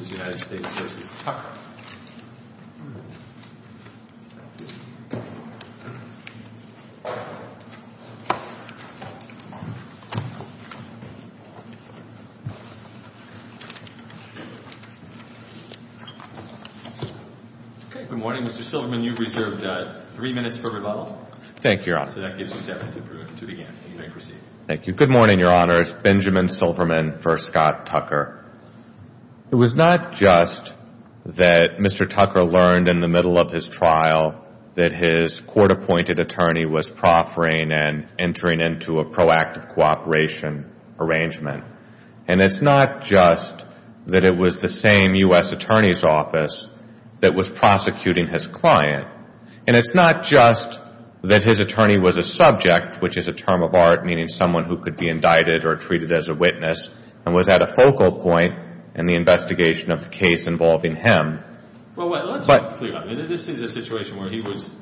v. Tucker. Okay. Good morning, Mr. Silverman. You've reserved three minutes for rebuttal. Thank you, Your Honor. So that gives you seven to begin. You may proceed. Thank you. Good It's not just that Mr. Tucker learned in the middle of his trial that his court-appointed attorney was proffering and entering into a proactive cooperation arrangement. And it's not just that it was the same U.S. Attorney's Office that was prosecuting his client. And it's not just that his attorney was a subject, which is a term of art meaning someone who could not be indicted or treated as a witness and was at a focal point in the investigation of the case involving him. Well, let's be clear. This is a situation where he was,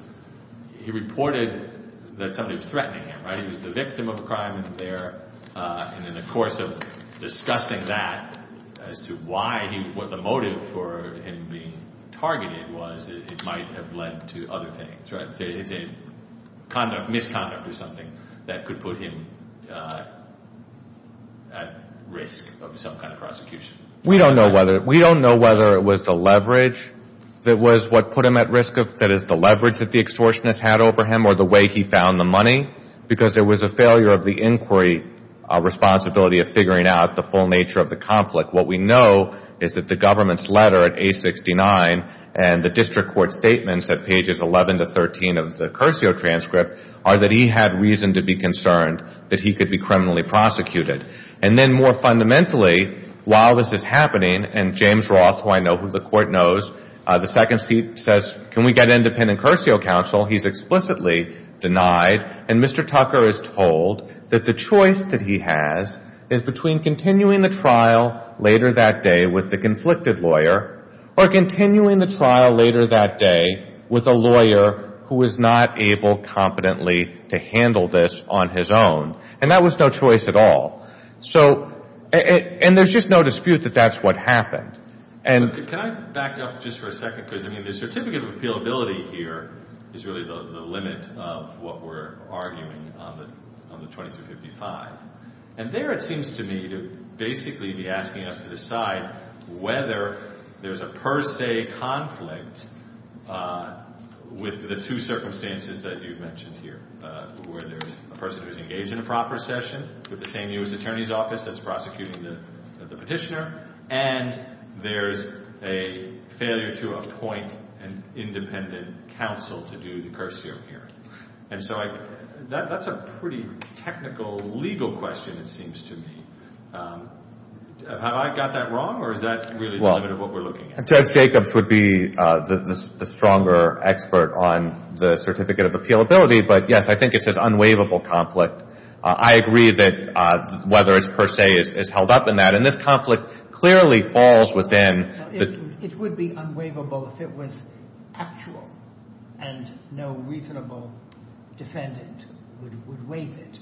he reported that somebody was threatening him, right? He was the victim of a crime there. And in the course of discussing that as to why he, what the motive for him being targeted was, it might have led to other things, right? Misconduct or something that could put him at risk of some kind of prosecution. We don't know whether it was the leverage that was what put him at risk, that is the leverage that the extortionist had over him or the way he found the money, because there was a failure of the inquiry responsibility of figuring out the full nature of the conflict. What we know is that the government's letter at age 69 and the district court statements at pages 11 to 13 of the Curcio transcript are that he had reason to be concerned that he could be criminally prosecuted. And then more fundamentally, while this is happening, and James Roth, who I know, who the court knows, the second seat, says, can we get independent Curcio counsel? He's explicitly denied. And Mr. Tucker is told that the choice that he has is between continuing the trial later that day with the conflicted lawyer or continuing the trial later that day with a lawyer who is not able competently to handle this on his own. And that was no choice at all. So, and there's just no dispute that that's what happened. And... Can I back up just for a second? Because, I mean, the certificate of appealability here is really the limit of what we're arguing on the 2355. And there it seems to me to basically be asking us to decide whether there's a per se conflict with the two circumstances that you've mentioned here, where there's a person who's engaged in a proper session with the same U.S. Attorney's Office that's prosecuting the petitioner, and there's a failure to appoint an independent counsel to do the Curcio hearing. And so I, that's a pretty technical legal question it seems to me. Have I got that wrong or is that really the limit of what we're looking at? Judge Jacobs would be the stronger expert on the certificate of appealability. But yes, I think it's this unwaivable conflict. I agree that whether it's per se is held up in that. And this conflict clearly falls within the... It would be unwaivable if it was actual and no reasonable defendant would waive it.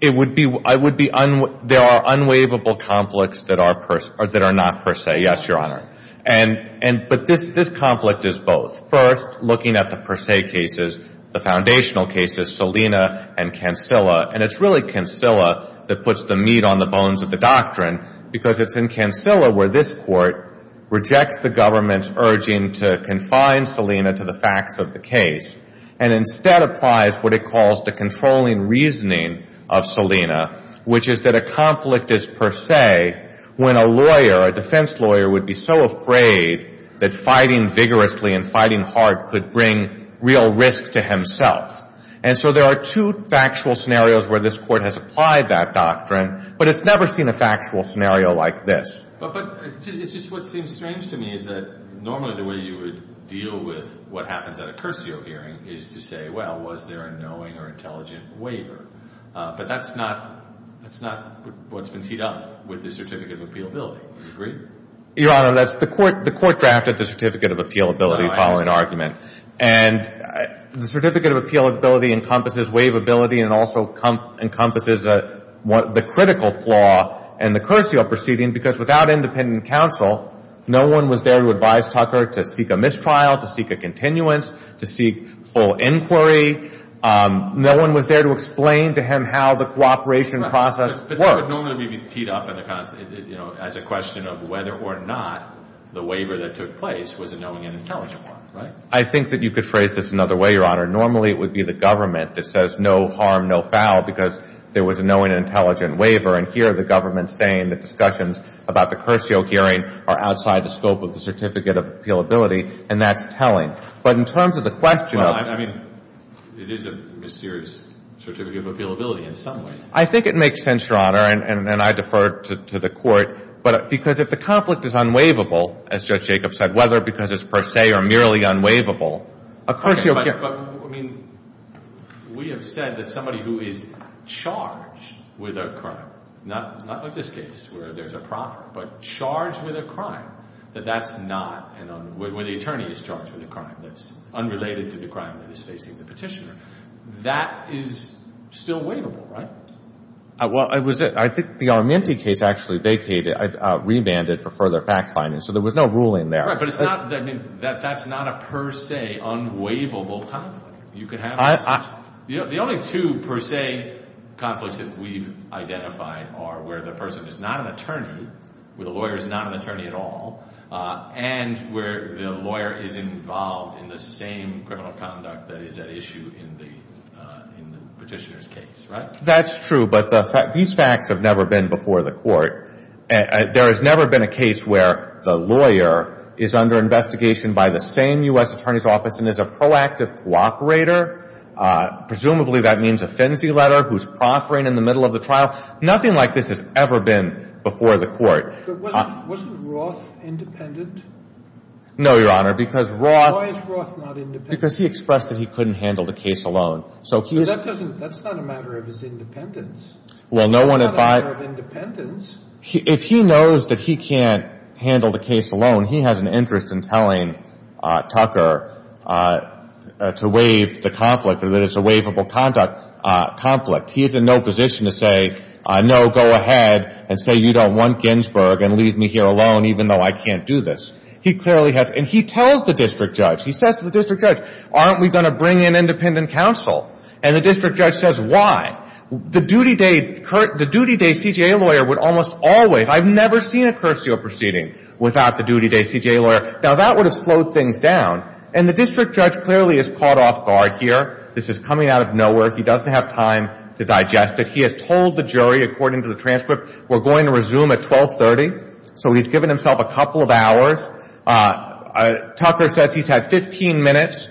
It would be, there are unwaivable conflicts that are not per se. Yes, Your Honor. But this conflict is both. First, looking at the per se cases, the foundational cases, Salina and Cancilla. And it's really Cancilla that puts the meat on the bones of the doctrine because it's in Cancilla where this Court rejects the government's urging to confine Salina to the facts of the case and instead applies what it calls the controlling reasoning of Salina, which is that a conflict is per se when a lawyer, a defense lawyer, would be so afraid that fighting vigorously and fighting hard could bring real risk to himself. And so there are two factual scenarios where this Court has applied that doctrine, but it's never seen a factual scenario like this. But it's just what seems strange to me is that normally the way you would deal with what happens at a cursio hearing is to say, well, was there a knowing or intelligent waiver? But that's not what's been teed up with the certificate of appealability. Your Honor, the Court drafted the certificate of appealability following argument. And the certificate of appealability encompasses waivability and also encompasses the critical flaw in the cursio proceeding because without independent counsel, no one was there to advise Tucker to seek a mistrial, to seek a continuance, to seek full inquiry. No one was there to explain to him how the cooperation process works. But that would normally be teed up as a question of whether or not the waiver that took place was a knowing and intelligent one, right? I think that you could phrase this another way, Your Honor. Normally it would be the government that says, no harm, no foul, because there was a knowing and intelligent waiver. And here the government's saying that discussions about the cursio hearing are outside the scope of the certificate of appealability. And that's telling. But in terms of the question of – Well, I mean, it is a mysterious certificate of appealability in some ways. I think it makes sense, Your Honor, and I defer to the Court, because if the conflict is unwaivable, as Judge Jacobs said, whether because it's per se or merely unwaivable, a cursio – Okay. But, I mean, we have said that somebody who is charged with a crime, not like this case where there's a proffer, but charged with a crime, that that's not – when the attorney is charged with a crime that's unrelated to the crime that is facing the petitioner, that is still waivable, right? Well, I think the Armenti case actually vacated – rebanded for further fact-finding. So there was no ruling there. Right. But it's not – I mean, that's not a per se unwaivable conflict. You could have – I – The only two per se conflicts that we've identified are where the person is not an attorney, where the lawyer is not an attorney at all, and where the lawyer is involved in the same criminal conduct that is at issue in the petitioner's case, right? That's true, but these facts have never been before the Court. There has never been a case where the lawyer is under investigation by the same U.S. Attorney's office and is a proactive cooperator. Presumably that means a fency letter, who's proffering in the middle of the trial. Nothing like this has ever been before the Court. But wasn't – wasn't Roth independent? No, Your Honor. Because Roth – Why is Roth not independent? Because he expressed that he couldn't handle the case alone. So he is – But that doesn't – that's not a matter of his independence. Well, no one – That's not a matter of independence. If he knows that he can't handle the case alone, he has an interest in telling Tucker to waive the conflict or that it's a waivable conduct – conflict. He is in no position to say, no, go ahead and say you don't want Ginsburg and leave me here alone even though I can't do this. He clearly has – and he tells the district judge. He says to the district judge, aren't we going to bring in independent counsel? And the district judge says, why? The duty day – the duty day CJA lawyer would almost always – I've never seen a cursio proceeding without the duty day CJA lawyer. Now, that would have slowed things down. And the district judge clearly is caught off guard here. This is coming out of nowhere. He doesn't have time to digest it. He has told the jury, according to the transcript, we're going to resume at 1230. So he's given himself a couple of hours. Tucker says he's had 15 minutes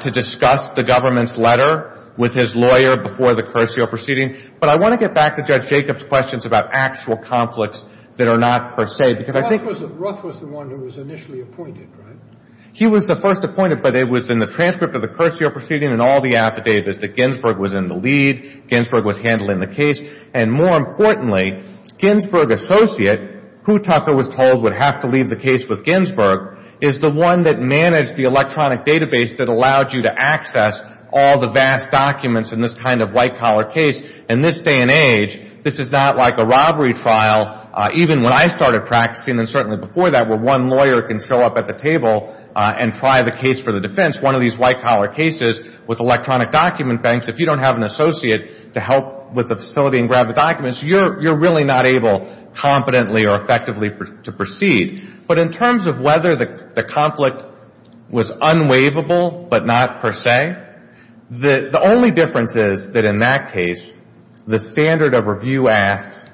to discuss the government's letter with his lawyer before the cursio proceeding. But I want to get back to Judge Jacobs' questions about actual conflicts that are not per se, because I think – Ruff was the – Ruff was the one who was initially appointed, right? He was the first appointed, but it was in the transcript of the cursio proceeding and all the affidavits that Ginsburg was in the lead, Ginsburg was handling the case. And more importantly, Ginsburg associate, who Tucker was told would have to leave the case with Ginsburg, is the one that managed the electronic database that allowed you to access all the vast documents in this kind of white-collar case. In this day and age, this is not like a robbery trial, even when I started practicing and certainly before that, where one lawyer can show up at the table and try the case for the defense. One of these white-collar cases with electronic document banks, if you don't have an associate to help with the facility and grab the documents, you're really not able competently or effectively to proceed. But in terms of whether the conflict was unwaivable but not per se, the only difference is that in that case, the standard of review asks –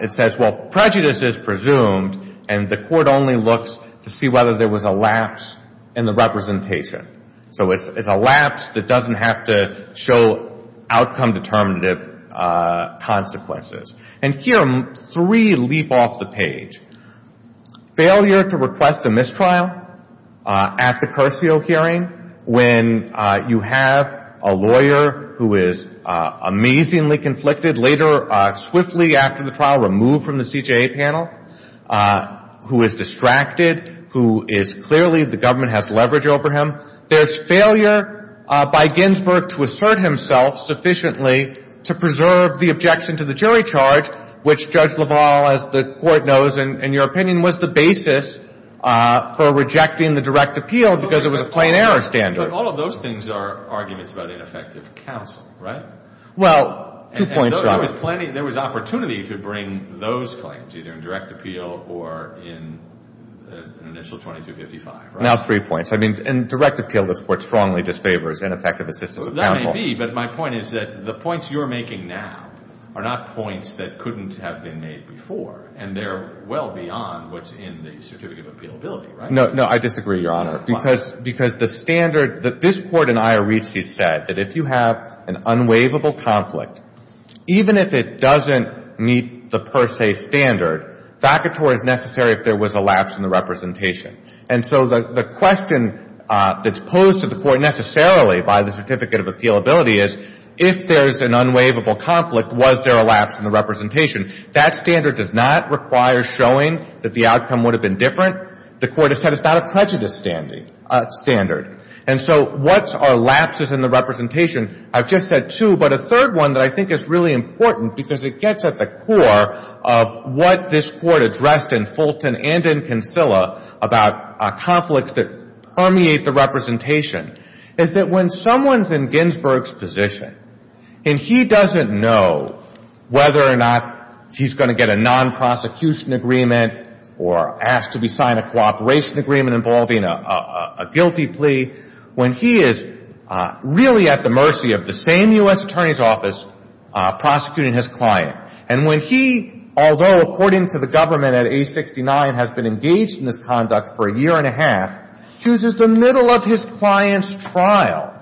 it says, well, prejudice is presumed, and the court only looks to see whether there was a lapse in the representation. So it's a lapse that doesn't have to show outcome-determinative consequences. And here, three leap off the page. Failure to request a mistrial at the Curcio hearing, when you have a lawyer who is amazingly conflicted, later swiftly after the trial removed from the CJA panel, who is distracted, who is clearly – the government has leverage over him. There's failure by Ginsburg to assert himself sufficiently to preserve the objection to the jury charge, which Judge LaValle, as the Court knows, in your opinion, was the basis for rejecting the direct appeal because it was a plain-error standard. But all of those things are arguments about ineffective counsel, right? Well, two points. And there was plenty – there was opportunity to bring those claims, either in direct appeal or in initial 2255, right? Now three points. I mean, in direct appeal, this Court strongly disfavors ineffective assistance of counsel. Well, it may be. But my point is that the points you're making now are not points that couldn't have been made before, and they're well beyond what's in the Certificate of Appealability, right? No. No. I disagree, Your Honor. Why? Because the standard – this Court in Iorizzi said that if you have an unwaivable conflict, even if it doesn't meet the per se standard, vacator is necessary if there was a lapse in the representation. And so the question that's posed to the Court necessarily by the Certificate of Appealability is if there's an unwaivable conflict, was there a lapse in the representation? That standard does not require showing that the outcome would have been different. The Court has said it's not a prejudice standard. And so what are lapses in the representation? I've just said two, but a third one that I think is really important because it gets at the core of what this Court addressed in Fulton and in Kinsella about conflicts that permeate the representation, is that when someone's in Ginsburg's position and he doesn't know whether or not he's going to get a non-prosecution agreement or ask to be signed a cooperation agreement involving a guilty plea, when he is really at the mercy of the same U.S. Attorney's Office prosecuting his client, and when he, although according to the government at age 69, has been engaged in this conduct for a year and a half, chooses the middle of his client's trial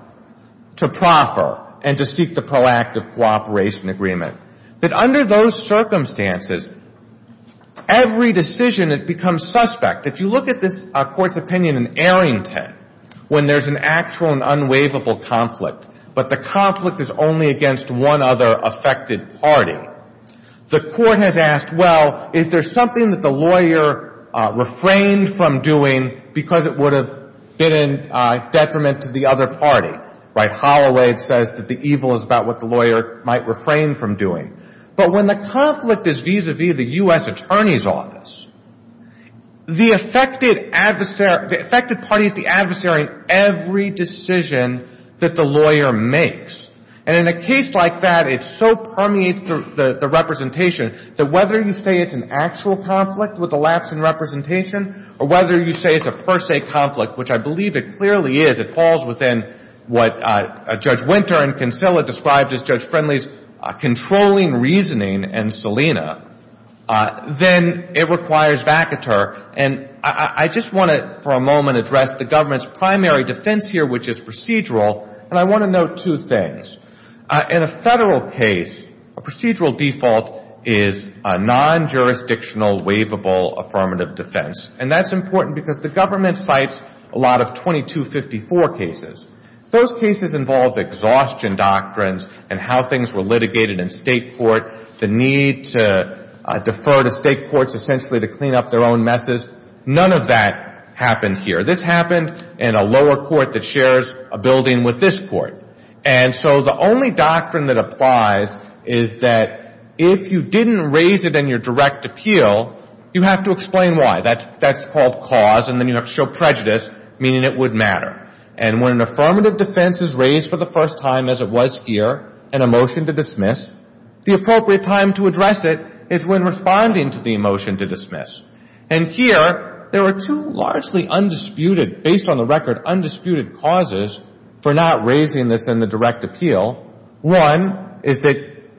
to proffer and to seek the proactive cooperation agreement, that under those circumstances, every decision that becomes suspect, if you look at this Court's opinion in Arrington, when there's an actual and unwaivable conflict, but the conflict is only against one other affected party, the Court has asked, well, is there something that the lawyer refrained from doing because it would have been in detriment to the other party? Right? Holloway says that the evil is about what the lawyer might refrain from doing. But when the conflict is vis-a-vis the U.S. Attorney's Office, the affected adversary is the adversary in every decision that the lawyer makes. And in a case like that, it so permeates the representation that whether you say it's an actual conflict with a lapse in representation or whether you say it's a per se conflict, which I believe it clearly is, it falls within what Judge Winter and Kinsella described as Judge Friendly's controlling reasoning and Selina, then it requires vacateur. And I just want to, for a moment, address the government's primary defense here, which is procedural, and I want to note two things. In a federal case, a procedural default is a non-jurisdictional, waivable affirmative defense. And that's important because the government cites a lot of 2254 cases. Those cases involve exhaustion doctrines and how things were litigated in state court, the need to defer to state courts essentially to clean up their own messes. None of that happened here. This happened in a lower court that shares a building with this court. And so the only doctrine that applies is that if you didn't raise it in your direct appeal, you have to explain why. That's called cause, and then you have to show prejudice, meaning it would matter. And when an affirmative defense is raised for the first time, as it was here, and a appropriate time to address it is when responding to the motion to dismiss. And here, there are two largely undisputed, based on the record, undisputed causes for not raising this in the direct appeal. One is that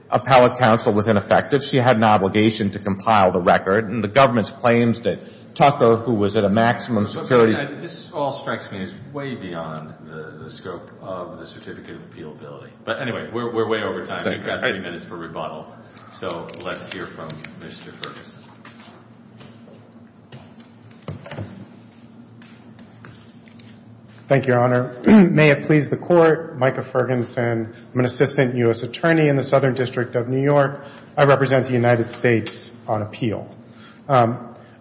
appellate counsel was ineffective. She had an obligation to compile the record, and the government's claims that Tucker, who was at a maximum security – This all strikes me as way beyond the scope of the certificate of appealability. But anyway, we're way over time. Thank you. We have 30 minutes for rebuttal, so let's hear from Mr. Ferguson. Thank you, Your Honor. May it please the Court, Micah Ferguson, I'm an assistant U.S. attorney in the Southern District of New York. I represent the United States on appeal. I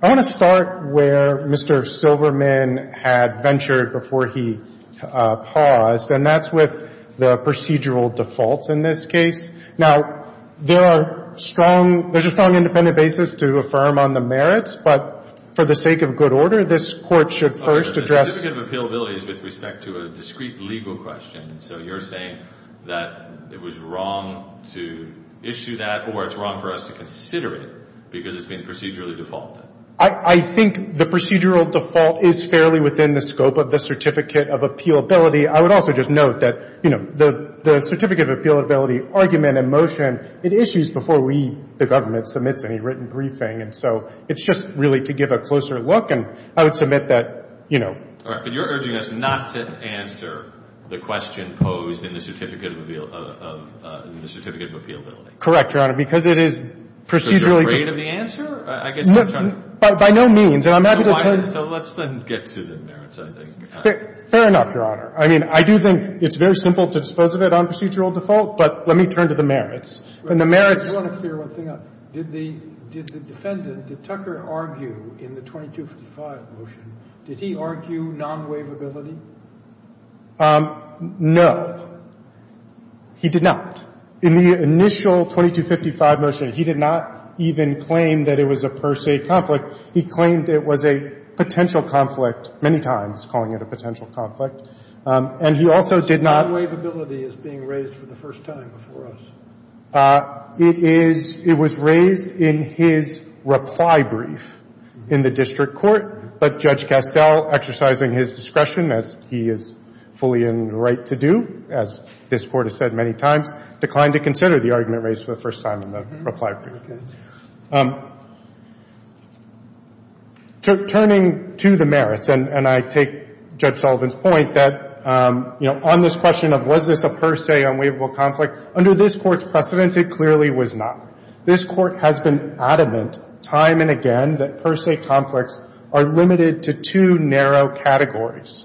want to start where Mr. Silverman had ventured before he paused, and that's with the procedural defaults in this case. Now, there are strong – there's a strong independent basis to affirm on the merits, but for the sake of good order, this Court should first address – The certificate of appealability is with respect to a discrete legal question, so you're saying that it was wrong to issue that, or it's wrong for us to consider it because it's been procedurally defaulted. I think the procedural default is fairly within the scope of the certificate of appealability. I would also just note that, you know, the certificate of appealability argument in motion, it issues before we, the government, submits any written briefing. And so it's just really to give a closer look, and I would submit that, you know – All right. But you're urging us not to answer the question posed in the certificate of appealability. Correct, Your Honor, because it is procedurally – So you're afraid of the answer? I guess I'm trying to – No, by no means. And I'm happy to tell you – So let's then get to the merits, I think. Fair enough, Your Honor. I mean, I do think it's very simple to dispose of it on procedural default, but let me turn to the merits. And the merits – I want to clear one thing up. Did the defendant, did Tucker argue in the 2255 motion, did he argue non-waivability? No. He did not. In the initial 2255 motion, he did not even claim that it was a per se conflict. He claimed it was a potential conflict many times, calling it a potential conflict. And he also did not – Non-waivability is being raised for the first time before us. It is – it was raised in his reply brief in the district court. But Judge Castell, exercising his discretion, as he is fully in the right to do, as this Court has said many times, declined to consider the argument raised for the first time in the reply brief. Turning to the merits, and I take Judge Sullivan's point that, you know, on this question of was this a per se unwaivable conflict, under this Court's precedence, it clearly was not. This Court has been adamant time and again that per se conflicts are limited to two narrow categories.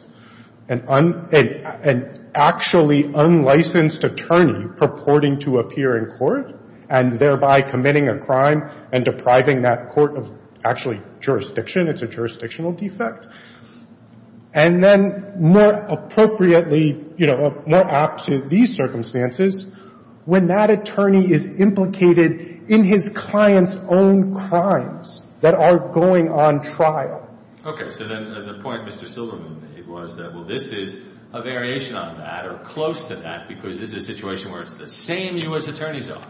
An actually unlicensed attorney purporting to appear in court and thereby committing a crime and depriving that court of actually jurisdiction. It's a jurisdictional defect. And then more appropriately, you know, more apt to these circumstances, when that attorney is implicated in his client's own crimes that are going on trial. Okay. So then the point Mr. Silverman made was that, well, this is a variation on that or close to that because this is a situation where it's the same U.S. attorney's own.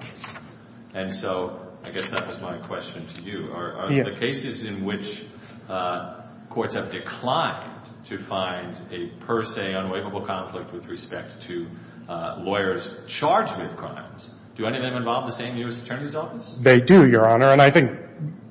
And so I guess that was my question to you. Are the cases in which courts have declined to find a per se unwaivable conflict with respect to lawyers charged with crimes, do any of them involve the same U.S. attorney's office? They do, Your Honor. And I think,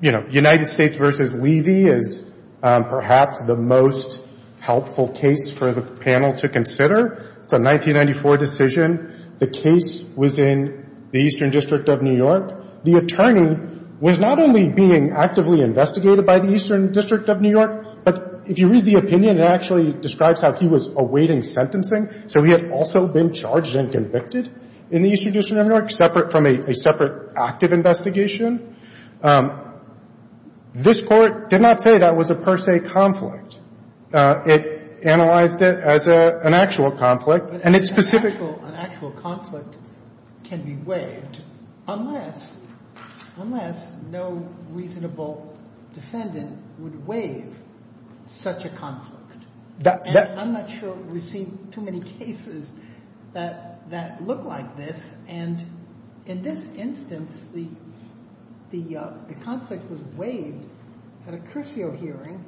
you know, United States v. Levy is perhaps the most helpful case for the panel to consider. It's a 1994 decision. The case was in the Eastern District of New York. The attorney was not only being actively investigated by the Eastern District of New York, but if you read the opinion, it actually describes how he was awaiting sentencing. So he had also been charged and convicted in the Eastern District of New York, separate from a separate active investigation. This Court did not say that was a per se conflict. It analyzed it as an actual conflict. But an actual conflict can be waived unless no reasonable defendant would waive such a conflict. And I'm not sure we've seen too many cases that look like this. And in this instance, the conflict was waived at a Curcio hearing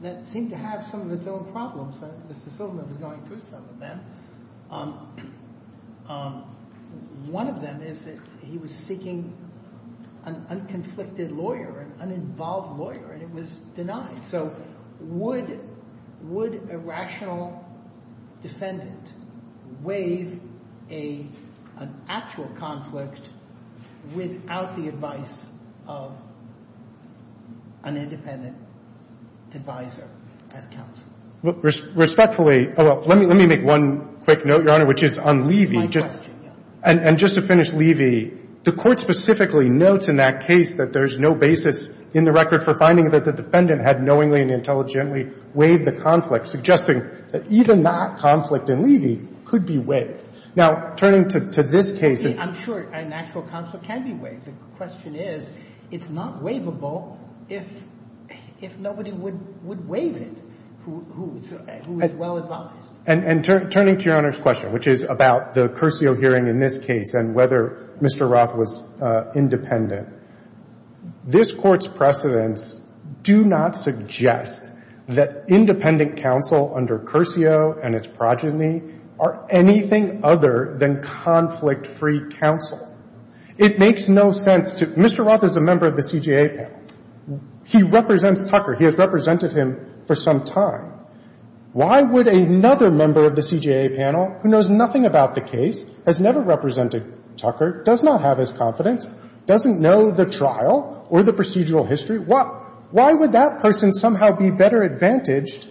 that seemed to have some of its own problems. Mr. Silverman was going through some of them. One of them is that he was seeking an unconflicted lawyer, an uninvolved lawyer, and it was denied. So would a rational defendant waive an actual conflict without the advice of an independent advisor as counsel? Respectfully, well, let me make one quick note, Your Honor, which is on Levy. It's my question, yes. And just to finish, Levy, the Court specifically notes in that case that there's no basis in the record for finding that the defendant had knowingly and intelligently waived the conflict, suggesting that even that conflict in Levy could be waived. Now, turning to this case. See, I'm sure an actual conflict can be waived. The question is, it's not waivable if nobody would waive it who is well advised. And turning to Your Honor's question, which is about the Curcio hearing in this case and whether Mr. Roth was independent, this Court's precedents do not suggest that independent counsel under Curcio and its progeny are anything other than conflict-free counsel. It makes no sense to Mr. Roth is a member of the CJA panel. He represents Tucker. He has represented him for some time. Why would another member of the CJA panel who knows nothing about the case, has never represented Tucker, does not have his confidence, doesn't know the trial or the procedural history, why would that person somehow be better advantaged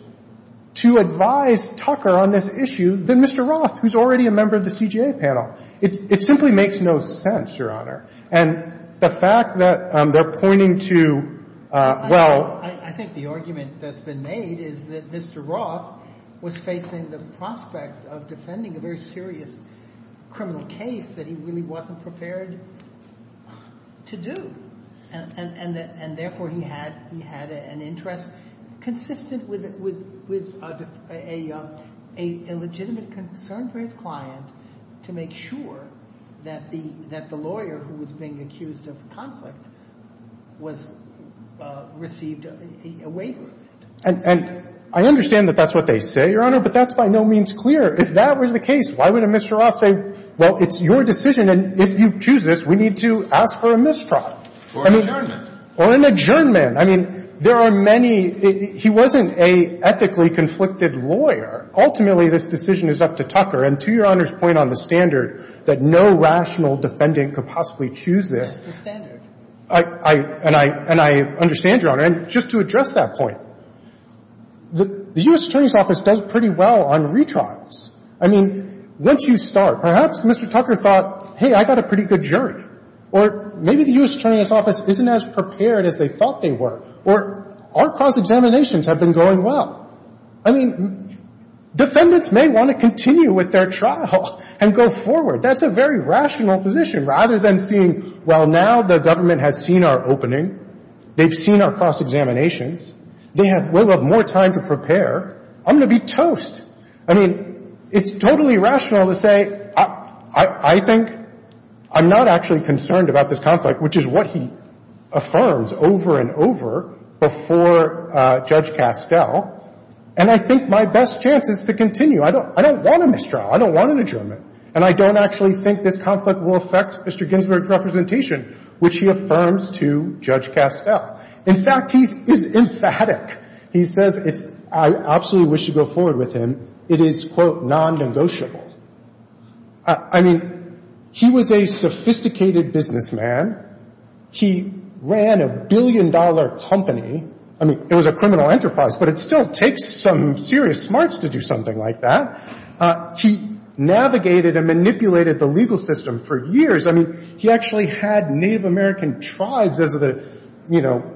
to advise Tucker on this issue than Mr. Roth, who's already a member of the CJA panel? It simply makes no sense, Your Honor. And the fact that they're pointing to, well — I think the argument that's been made is that Mr. Roth was facing the prospect of defending a very serious criminal case that he really wasn't prepared to do. And therefore, he had an interest consistent with a legitimate concern for his client to make sure that the lawyer who was being accused of conflict was received a waiver. And I understand that that's what they say, Your Honor, but that's by no means clear. If that was the case, why would a Mr. Roth say, well, it's your decision, and if you choose this, we need to ask for a mistrial? Or an adjournment. Or an adjournment. I mean, there are many — he wasn't an ethically conflicted lawyer. Ultimately, this decision is up to Tucker. And to Your Honor's point on the standard, that no rational defendant could possibly choose this — It's the standard. And I understand, Your Honor. And just to address that point, the U.S. Attorney's Office does pretty well on retrials. I mean, once you start, perhaps Mr. Tucker thought, hey, I got a pretty good jury. Or maybe the U.S. Attorney's Office isn't as prepared as they thought they were. Or our cross-examinations have been going well. I mean, defendants may want to continue with their trial and go forward. That's a very rational position. Rather than seeing, well, now the government has seen our opening. They've seen our cross-examinations. They have more time to prepare. I'm going to be toast. I mean, it's totally rational to say, I think I'm not actually concerned about this conflict, which is what he affirms over and over before Judge Castel. And I think my best chance is to continue. I don't want a mistrial. I don't want an adjournment. And I don't actually think this conflict will affect Mr. Ginsburg's representation, which he affirms to Judge Castel. In fact, he's emphatic. He says it's — I absolutely wish to go forward with him. It is, quote, non-negotiable. I mean, he was a sophisticated businessman. He ran a billion-dollar company. I mean, it was a criminal enterprise, but it still takes some serious smarts to do something like that. He navigated and manipulated the legal system for years. I mean, he actually had Native American tribes as the, you know,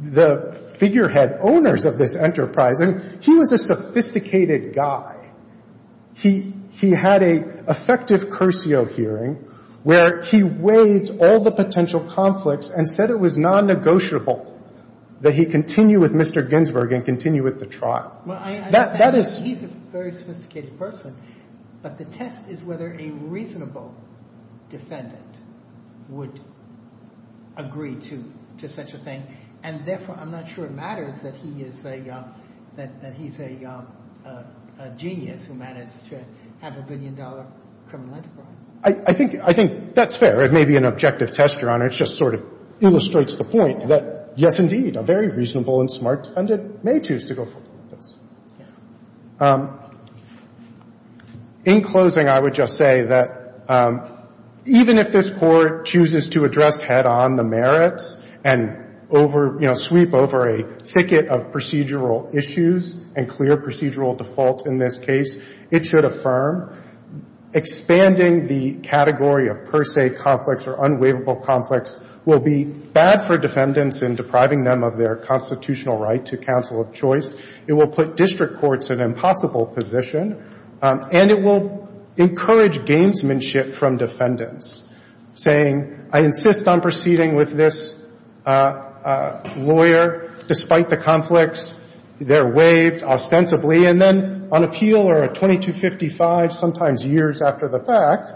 the figurehead owners of this enterprise. And he was a sophisticated guy. He had an effective cursio hearing where he weighed all the potential conflicts and said it was non-negotiable that he continue with Mr. Ginsburg and continue with the trial. That is — He's a very sophisticated person. But the test is whether a reasonable defendant would agree to such a thing. And therefore, I'm not sure it matters that he is a — that he's a genius who managed to have a billion-dollar criminal enterprise. I think — I think that's fair. It may be an objective test, Your Honor. It just sort of illustrates the point that, yes, indeed, a very reasonable and smart defendant may choose to go forward with this. In closing, I would just say that even if this Court chooses to address head-on the merits and over — you know, sweep over a thicket of procedural issues and clear procedural defaults in this case, it should affirm expanding the category of per se conflicts or unwaivable conflicts will be bad for defendants in depriving them of their constitutional right to counsel of choice. It will put district courts in an impossible position. And it will encourage gamesmanship from defendants, saying, I insist on proceeding with this lawyer despite the conflicts. They're waived ostensibly. And then on appeal or at 2255, sometimes years after the fact,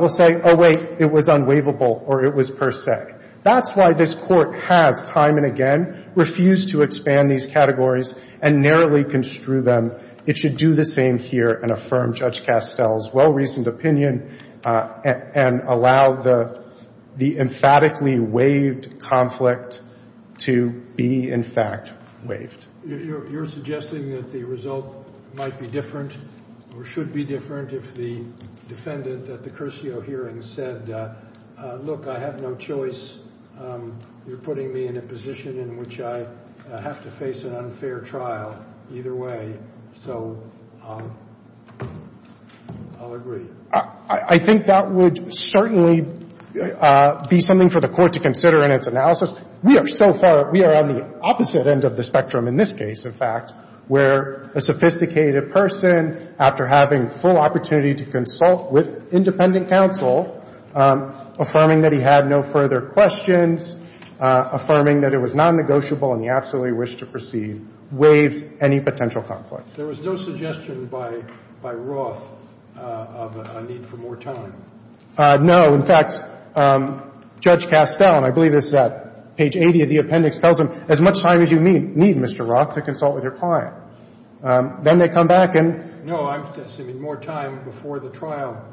will say, oh, wait, it was unwaivable or it was per se. That's why this Court has time and again refused to expand these categories and narrowly construe them. It should do the same here and affirm Judge Castell's well-reasoned opinion and allow the emphatically waived conflict to be, in fact, waived. You're suggesting that the result might be different or should be different if the defendant at the Curcio hearing said, look, I have no choice. You're putting me in a position in which I have to face an unfair trial either way. So I'll agree. I think that would certainly be something for the Court to consider in its analysis. We are so far, we are on the opposite end of the spectrum in this case, in fact, where a sophisticated person, after having full opportunity to consult with independent counsel, affirming that he had no further questions, affirming that it was non-negotiable and he absolutely wished to proceed, waived any potential conflict. There was no suggestion by Roth of a need for more time. No. In fact, Judge Castell, and I believe this is at page 80 of the appendix, tells him, as much time as you need, Mr. Roth, to consult with your client. Then they come back and — No, I'm suggesting more time before the trial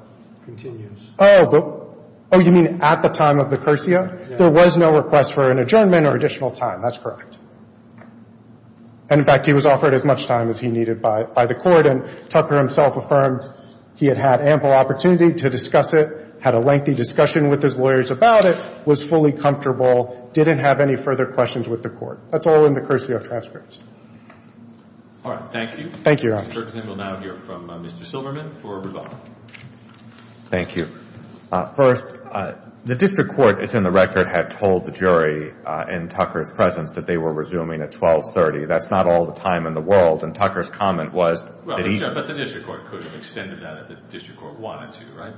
continues. Oh. Oh, you mean at the time of the Curcio? Yes. There was no request for an adjournment or additional time. That's correct. And, in fact, he was offered as much time as he needed by the Court. And Tucker himself affirmed he had had ample opportunity to discuss it, had a lengthy discussion with his lawyers about it, was fully comfortable, didn't have any further questions with the Court. That's all in the Curcio transcripts. All right. Thank you. Thank you, Your Honor. Mr. Kirkson will now hear from Mr. Silverman for rebuttal. Thank you. First, the district court, it's in the record, had told the jury in Tucker's presence that they were resuming at 1230. That's not all the time in the world. And Tucker's comment was that he – But the district court could have extended that if the district court wanted to, right?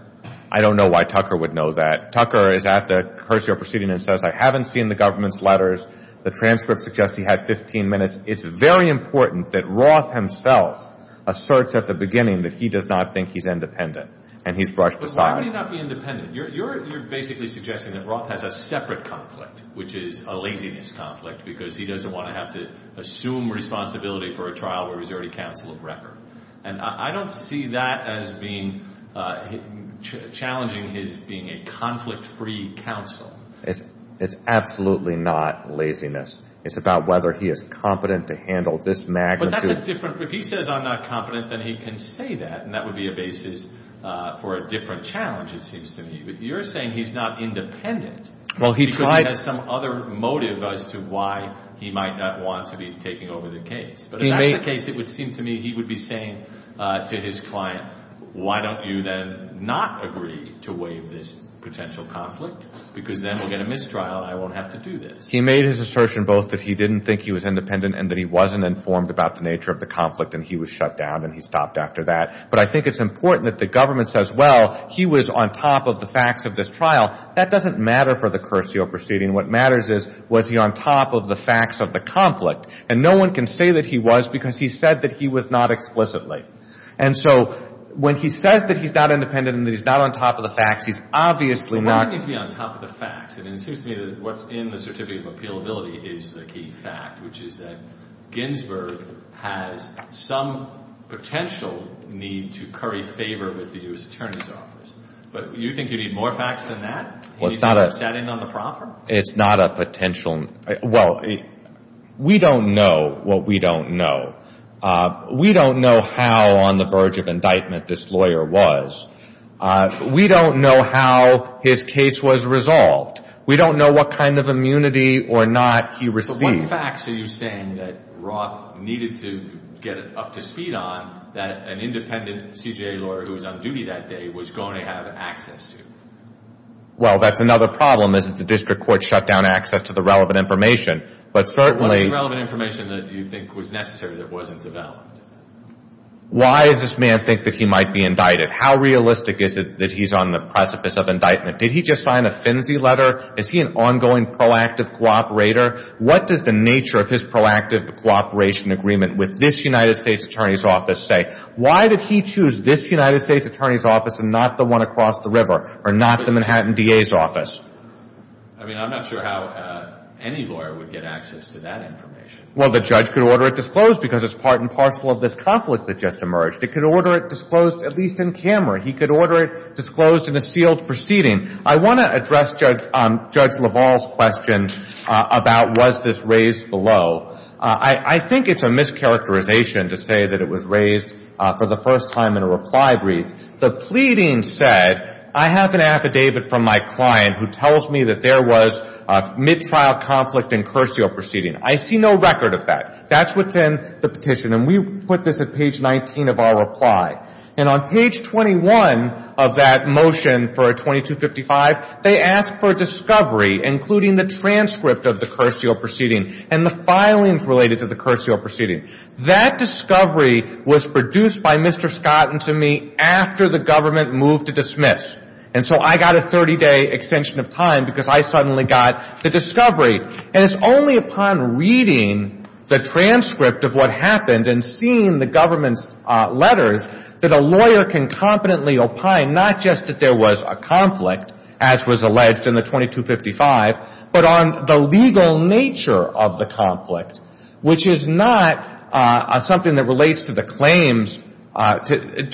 I don't know why Tucker would know that. Tucker is at the Curcio proceeding and says, I haven't seen the government's letters. The transcript suggests he had 15 minutes. It's very important that Roth himself asserts at the beginning that he does not think he's independent, and he's brushed aside. But why would he not be independent? You're basically suggesting that Roth has a separate conflict, which is a laziness conflict, because he doesn't want to have to assume responsibility for a trial where he's already counsel of record. And I don't see that as being – challenging his being a conflict-free counsel. It's absolutely not laziness. It's about whether he is competent to handle this magnitude. But that's a different – if he says I'm not competent, then he can say that, and that would be a basis for a different challenge, it seems to me. But you're saying he's not independent because he has some other motive as to why he might not want to be taking over the case. But if that's the case, it would seem to me he would be saying to his client, why don't you then not agree to waive this potential conflict? Because then we'll get a mistrial, and I won't have to do this. He made his assertion both that he didn't think he was independent and that he wasn't informed about the nature of the conflict, and he was shut down, and he stopped after that. But I think it's important that the government says, well, he was on top of the facts of this trial. That doesn't matter for the Curcio proceeding. What matters is was he on top of the facts of the conflict. And no one can say that he was because he said that he was not explicitly. And so when he says that he's not independent and that he's not on top of the facts, he's obviously not – Well, why does he need to be on top of the facts? It seems to me that what's in the Certificate of Appealability is the key fact, which is that Ginsburg has some potential need to curry favor with the U.S. Attorney's Office. But you think you need more facts than that? Anything upsetting on the proffer? It's not a potential – Well, we don't know what we don't know. We don't know how on the verge of indictment this lawyer was. We don't know how his case was resolved. We don't know what kind of immunity or not he received. But what facts are you saying that Roth needed to get up to speed on that an independent CJA lawyer who was on duty that day was going to have access to? Well, that's another problem is that the district court shut down access to the relevant information. But certainly – What was the relevant information that you think was necessary that wasn't developed? Why does this man think that he might be indicted? How realistic is it that he's on the precipice of indictment? Did he just sign a finsy letter? Is he an ongoing proactive cooperator? What does the nature of his proactive cooperation agreement with this United States Attorney's Office say? Why did he choose this United States Attorney's Office and not the one across the river or not the Manhattan DA's office? I mean, I'm not sure how any lawyer would get access to that information. Well, the judge could order it disclosed because it's part and parcel of this conflict that just emerged. It could order it disclosed at least in camera. He could order it disclosed in a sealed proceeding. I want to address Judge LaValle's question about was this raised below. I think it's a mischaracterization to say that it was raised for the first time in a reply brief. The pleading said, I have an affidavit from my client who tells me that there was a mid-trial conflict in cursio proceeding. I see no record of that. That's what's in the petition. And we put this at page 19 of our reply. And on page 21 of that motion for a 2255, they ask for a discovery including the transcript of the cursio proceeding and the filings related to the cursio proceeding. That discovery was produced by Mr. Scott and to me after the government moved to dismiss. And so I got a 30-day extension of time because I suddenly got the discovery. And it's only upon reading the transcript of what happened and seeing the government's letters that a lawyer can competently opine not just that there was a conflict, as was alleged in the 2255, but on the legal nature of the conflict, which is not something that relates to the claims to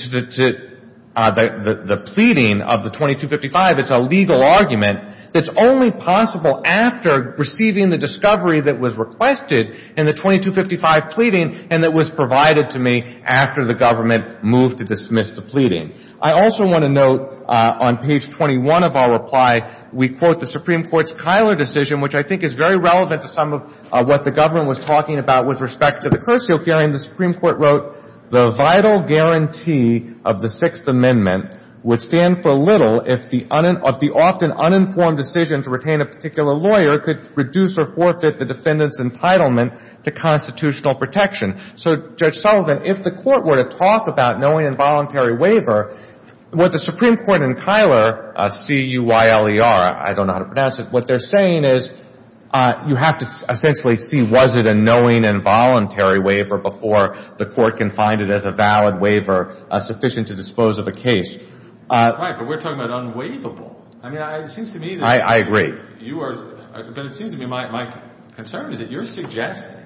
the pleading of the 2255. It's a legal argument that's only possible after receiving the discovery that was requested in the 2255 pleading and that was provided to me after the government moved to dismiss the pleading. I also want to note on page 21 of our reply, we quote the Supreme Court's Kyler decision, which I think is very relevant to some of what the government was talking about with respect to the cursio hearing. The Supreme Court wrote, the vital guarantee of the Sixth Amendment would stand for little if the often uninformed decision to retain a particular lawyer could reduce or forfeit the defendant's entitlement to constitutional protection. So, Judge Sullivan, if the court were to talk about knowing involuntary waiver, would the Supreme Court and Kyler, C-U-Y-L-E-R, I don't know how to pronounce it, what they're saying is you have to essentially see was it a knowing involuntary waiver before the court can find it as a valid waiver sufficient to dispose of a case. Right, but we're talking about unwaivable. I agree. But it seems to me my concern is that you're suggesting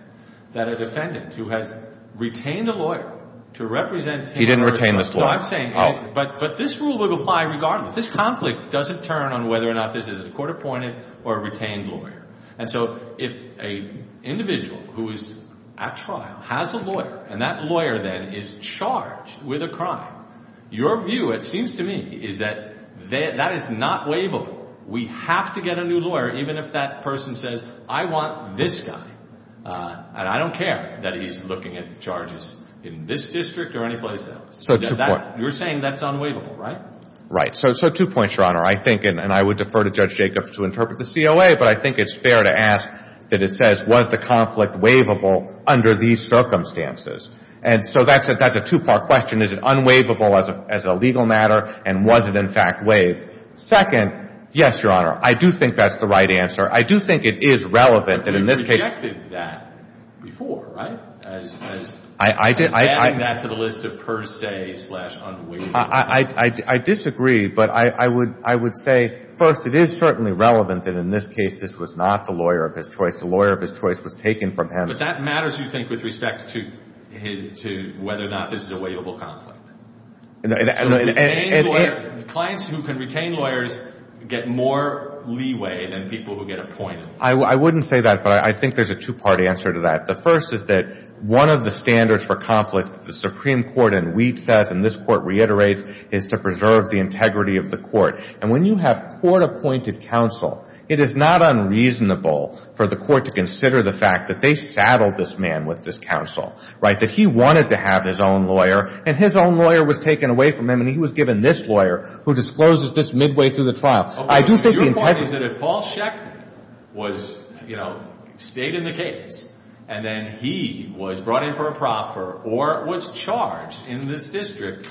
that a defendant who has retained a lawyer to represent him. He didn't retain this lawyer. No, I'm saying, but this rule would apply regardless. This conflict doesn't turn on whether or not this is a court appointed or a retained lawyer. And so if an individual who is at trial has a lawyer and that lawyer then is charged with a crime, your view, it seems to me, is that that is not waivable. We have to get a new lawyer even if that person says I want this guy and I don't care that he's looking at charges in this district or any place else. So two points. You're saying that's unwaivable, right? Right. So two points, Your Honor. I think, and I would defer to Judge Jacobs to interpret the COA, but I think it's fair to ask that it says was the conflict waivable under these circumstances. And so that's a two-part question. One, is it unwaivable as a legal matter and was it, in fact, waived? Second, yes, Your Honor, I do think that's the right answer. I do think it is relevant that in this case. But you rejected that before, right, as adding that to the list of per se slash unwaivable. I disagree. But I would say, first, it is certainly relevant that in this case this was not the lawyer of his choice. The lawyer of his choice was taken from him. But that matters, you think, with respect to whether or not this is a waivable conflict. Clients who can retain lawyers get more leeway than people who get appointed. I wouldn't say that, but I think there's a two-part answer to that. The first is that one of the standards for conflict that the Supreme Court in Wheat says and this court reiterates is to preserve the integrity of the court. And when you have court-appointed counsel, it is not unreasonable for the court to consider the fact that they saddled this man with this counsel, right, that he wanted to have his own lawyer and his own lawyer was taken away from him and he was given this lawyer who discloses just midway through the trial. Your point is that if Paul Schechter was, you know, stayed in the case and then he was brought in for a proffer or was charged in this district,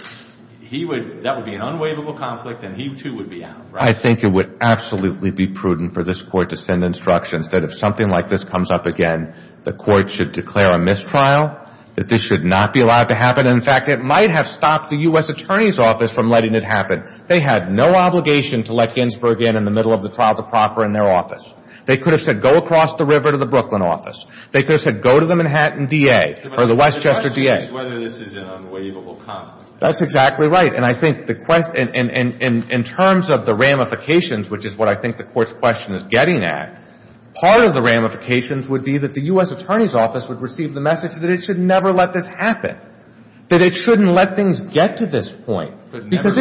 that would be an unwaivable conflict and he, too, would be out, right? Well, I think it would absolutely be prudent for this court to send instructions that if something like this comes up again, the court should declare a mistrial, that this should not be allowed to happen. In fact, it might have stopped the U.S. Attorney's Office from letting it happen. They had no obligation to let Ginsburg in in the middle of the trial to proffer in their office. They could have said go across the river to the Brooklyn office. They could have said go to the Manhattan DA or the Westchester DA. But the question is whether this is an unwaivable conflict. That's exactly right. And I think the question in terms of the ramifications, which is what I think the court's question is getting at, part of the ramifications would be that the U.S. Attorney's Office would receive the message that it should never let this happen, that it shouldn't let things get to this point. But never let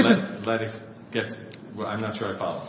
it get to this point. I'm not sure I follow.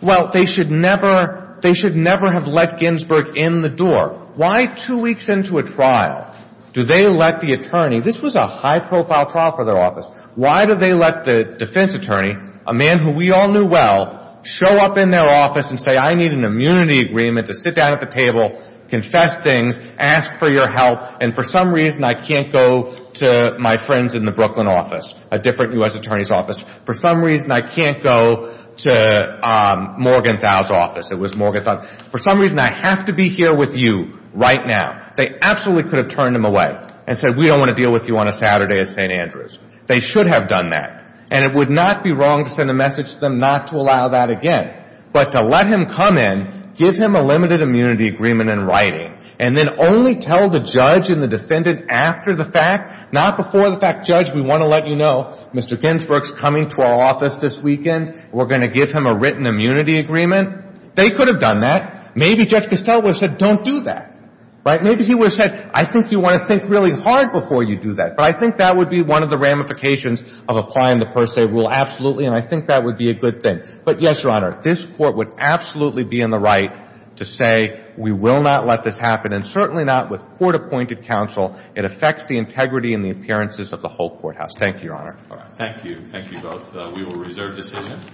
Well, they should never have let Ginsburg in the door. Why two weeks into a trial do they let the attorney? This was a high-profile trial for their office. Why do they let the defense attorney, a man who we all knew well, show up in their office and say I need an immunity agreement to sit down at the table, confess things, ask for your help, and for some reason I can't go to my friends in the Brooklyn office, a different U.S. Attorney's Office. For some reason I can't go to Morgenthau's office. It was Morgenthau. For some reason I have to be here with you right now. They absolutely could have turned him away and said we don't want to deal with you on a Saturday at St. Andrews. They should have done that. And it would not be wrong to send a message to them not to allow that again. But to let him come in, give him a limited immunity agreement in writing, and then only tell the judge and the defendant after the fact, not before the fact. Judge, we want to let you know Mr. Ginsburg is coming to our office this weekend. We're going to give him a written immunity agreement. They could have done that. Maybe Judge Costello would have said don't do that. Maybe he would have said I think you want to think really hard before you do that. But I think that would be one of the ramifications of applying the per se rule absolutely, and I think that would be a good thing. But yes, Your Honor, this court would absolutely be in the right to say we will not let this happen, and certainly not with court-appointed counsel. It affects the integrity and the appearances of the whole courthouse. Thank you, Your Honor. Thank you. Thank you both. We will reserve decision.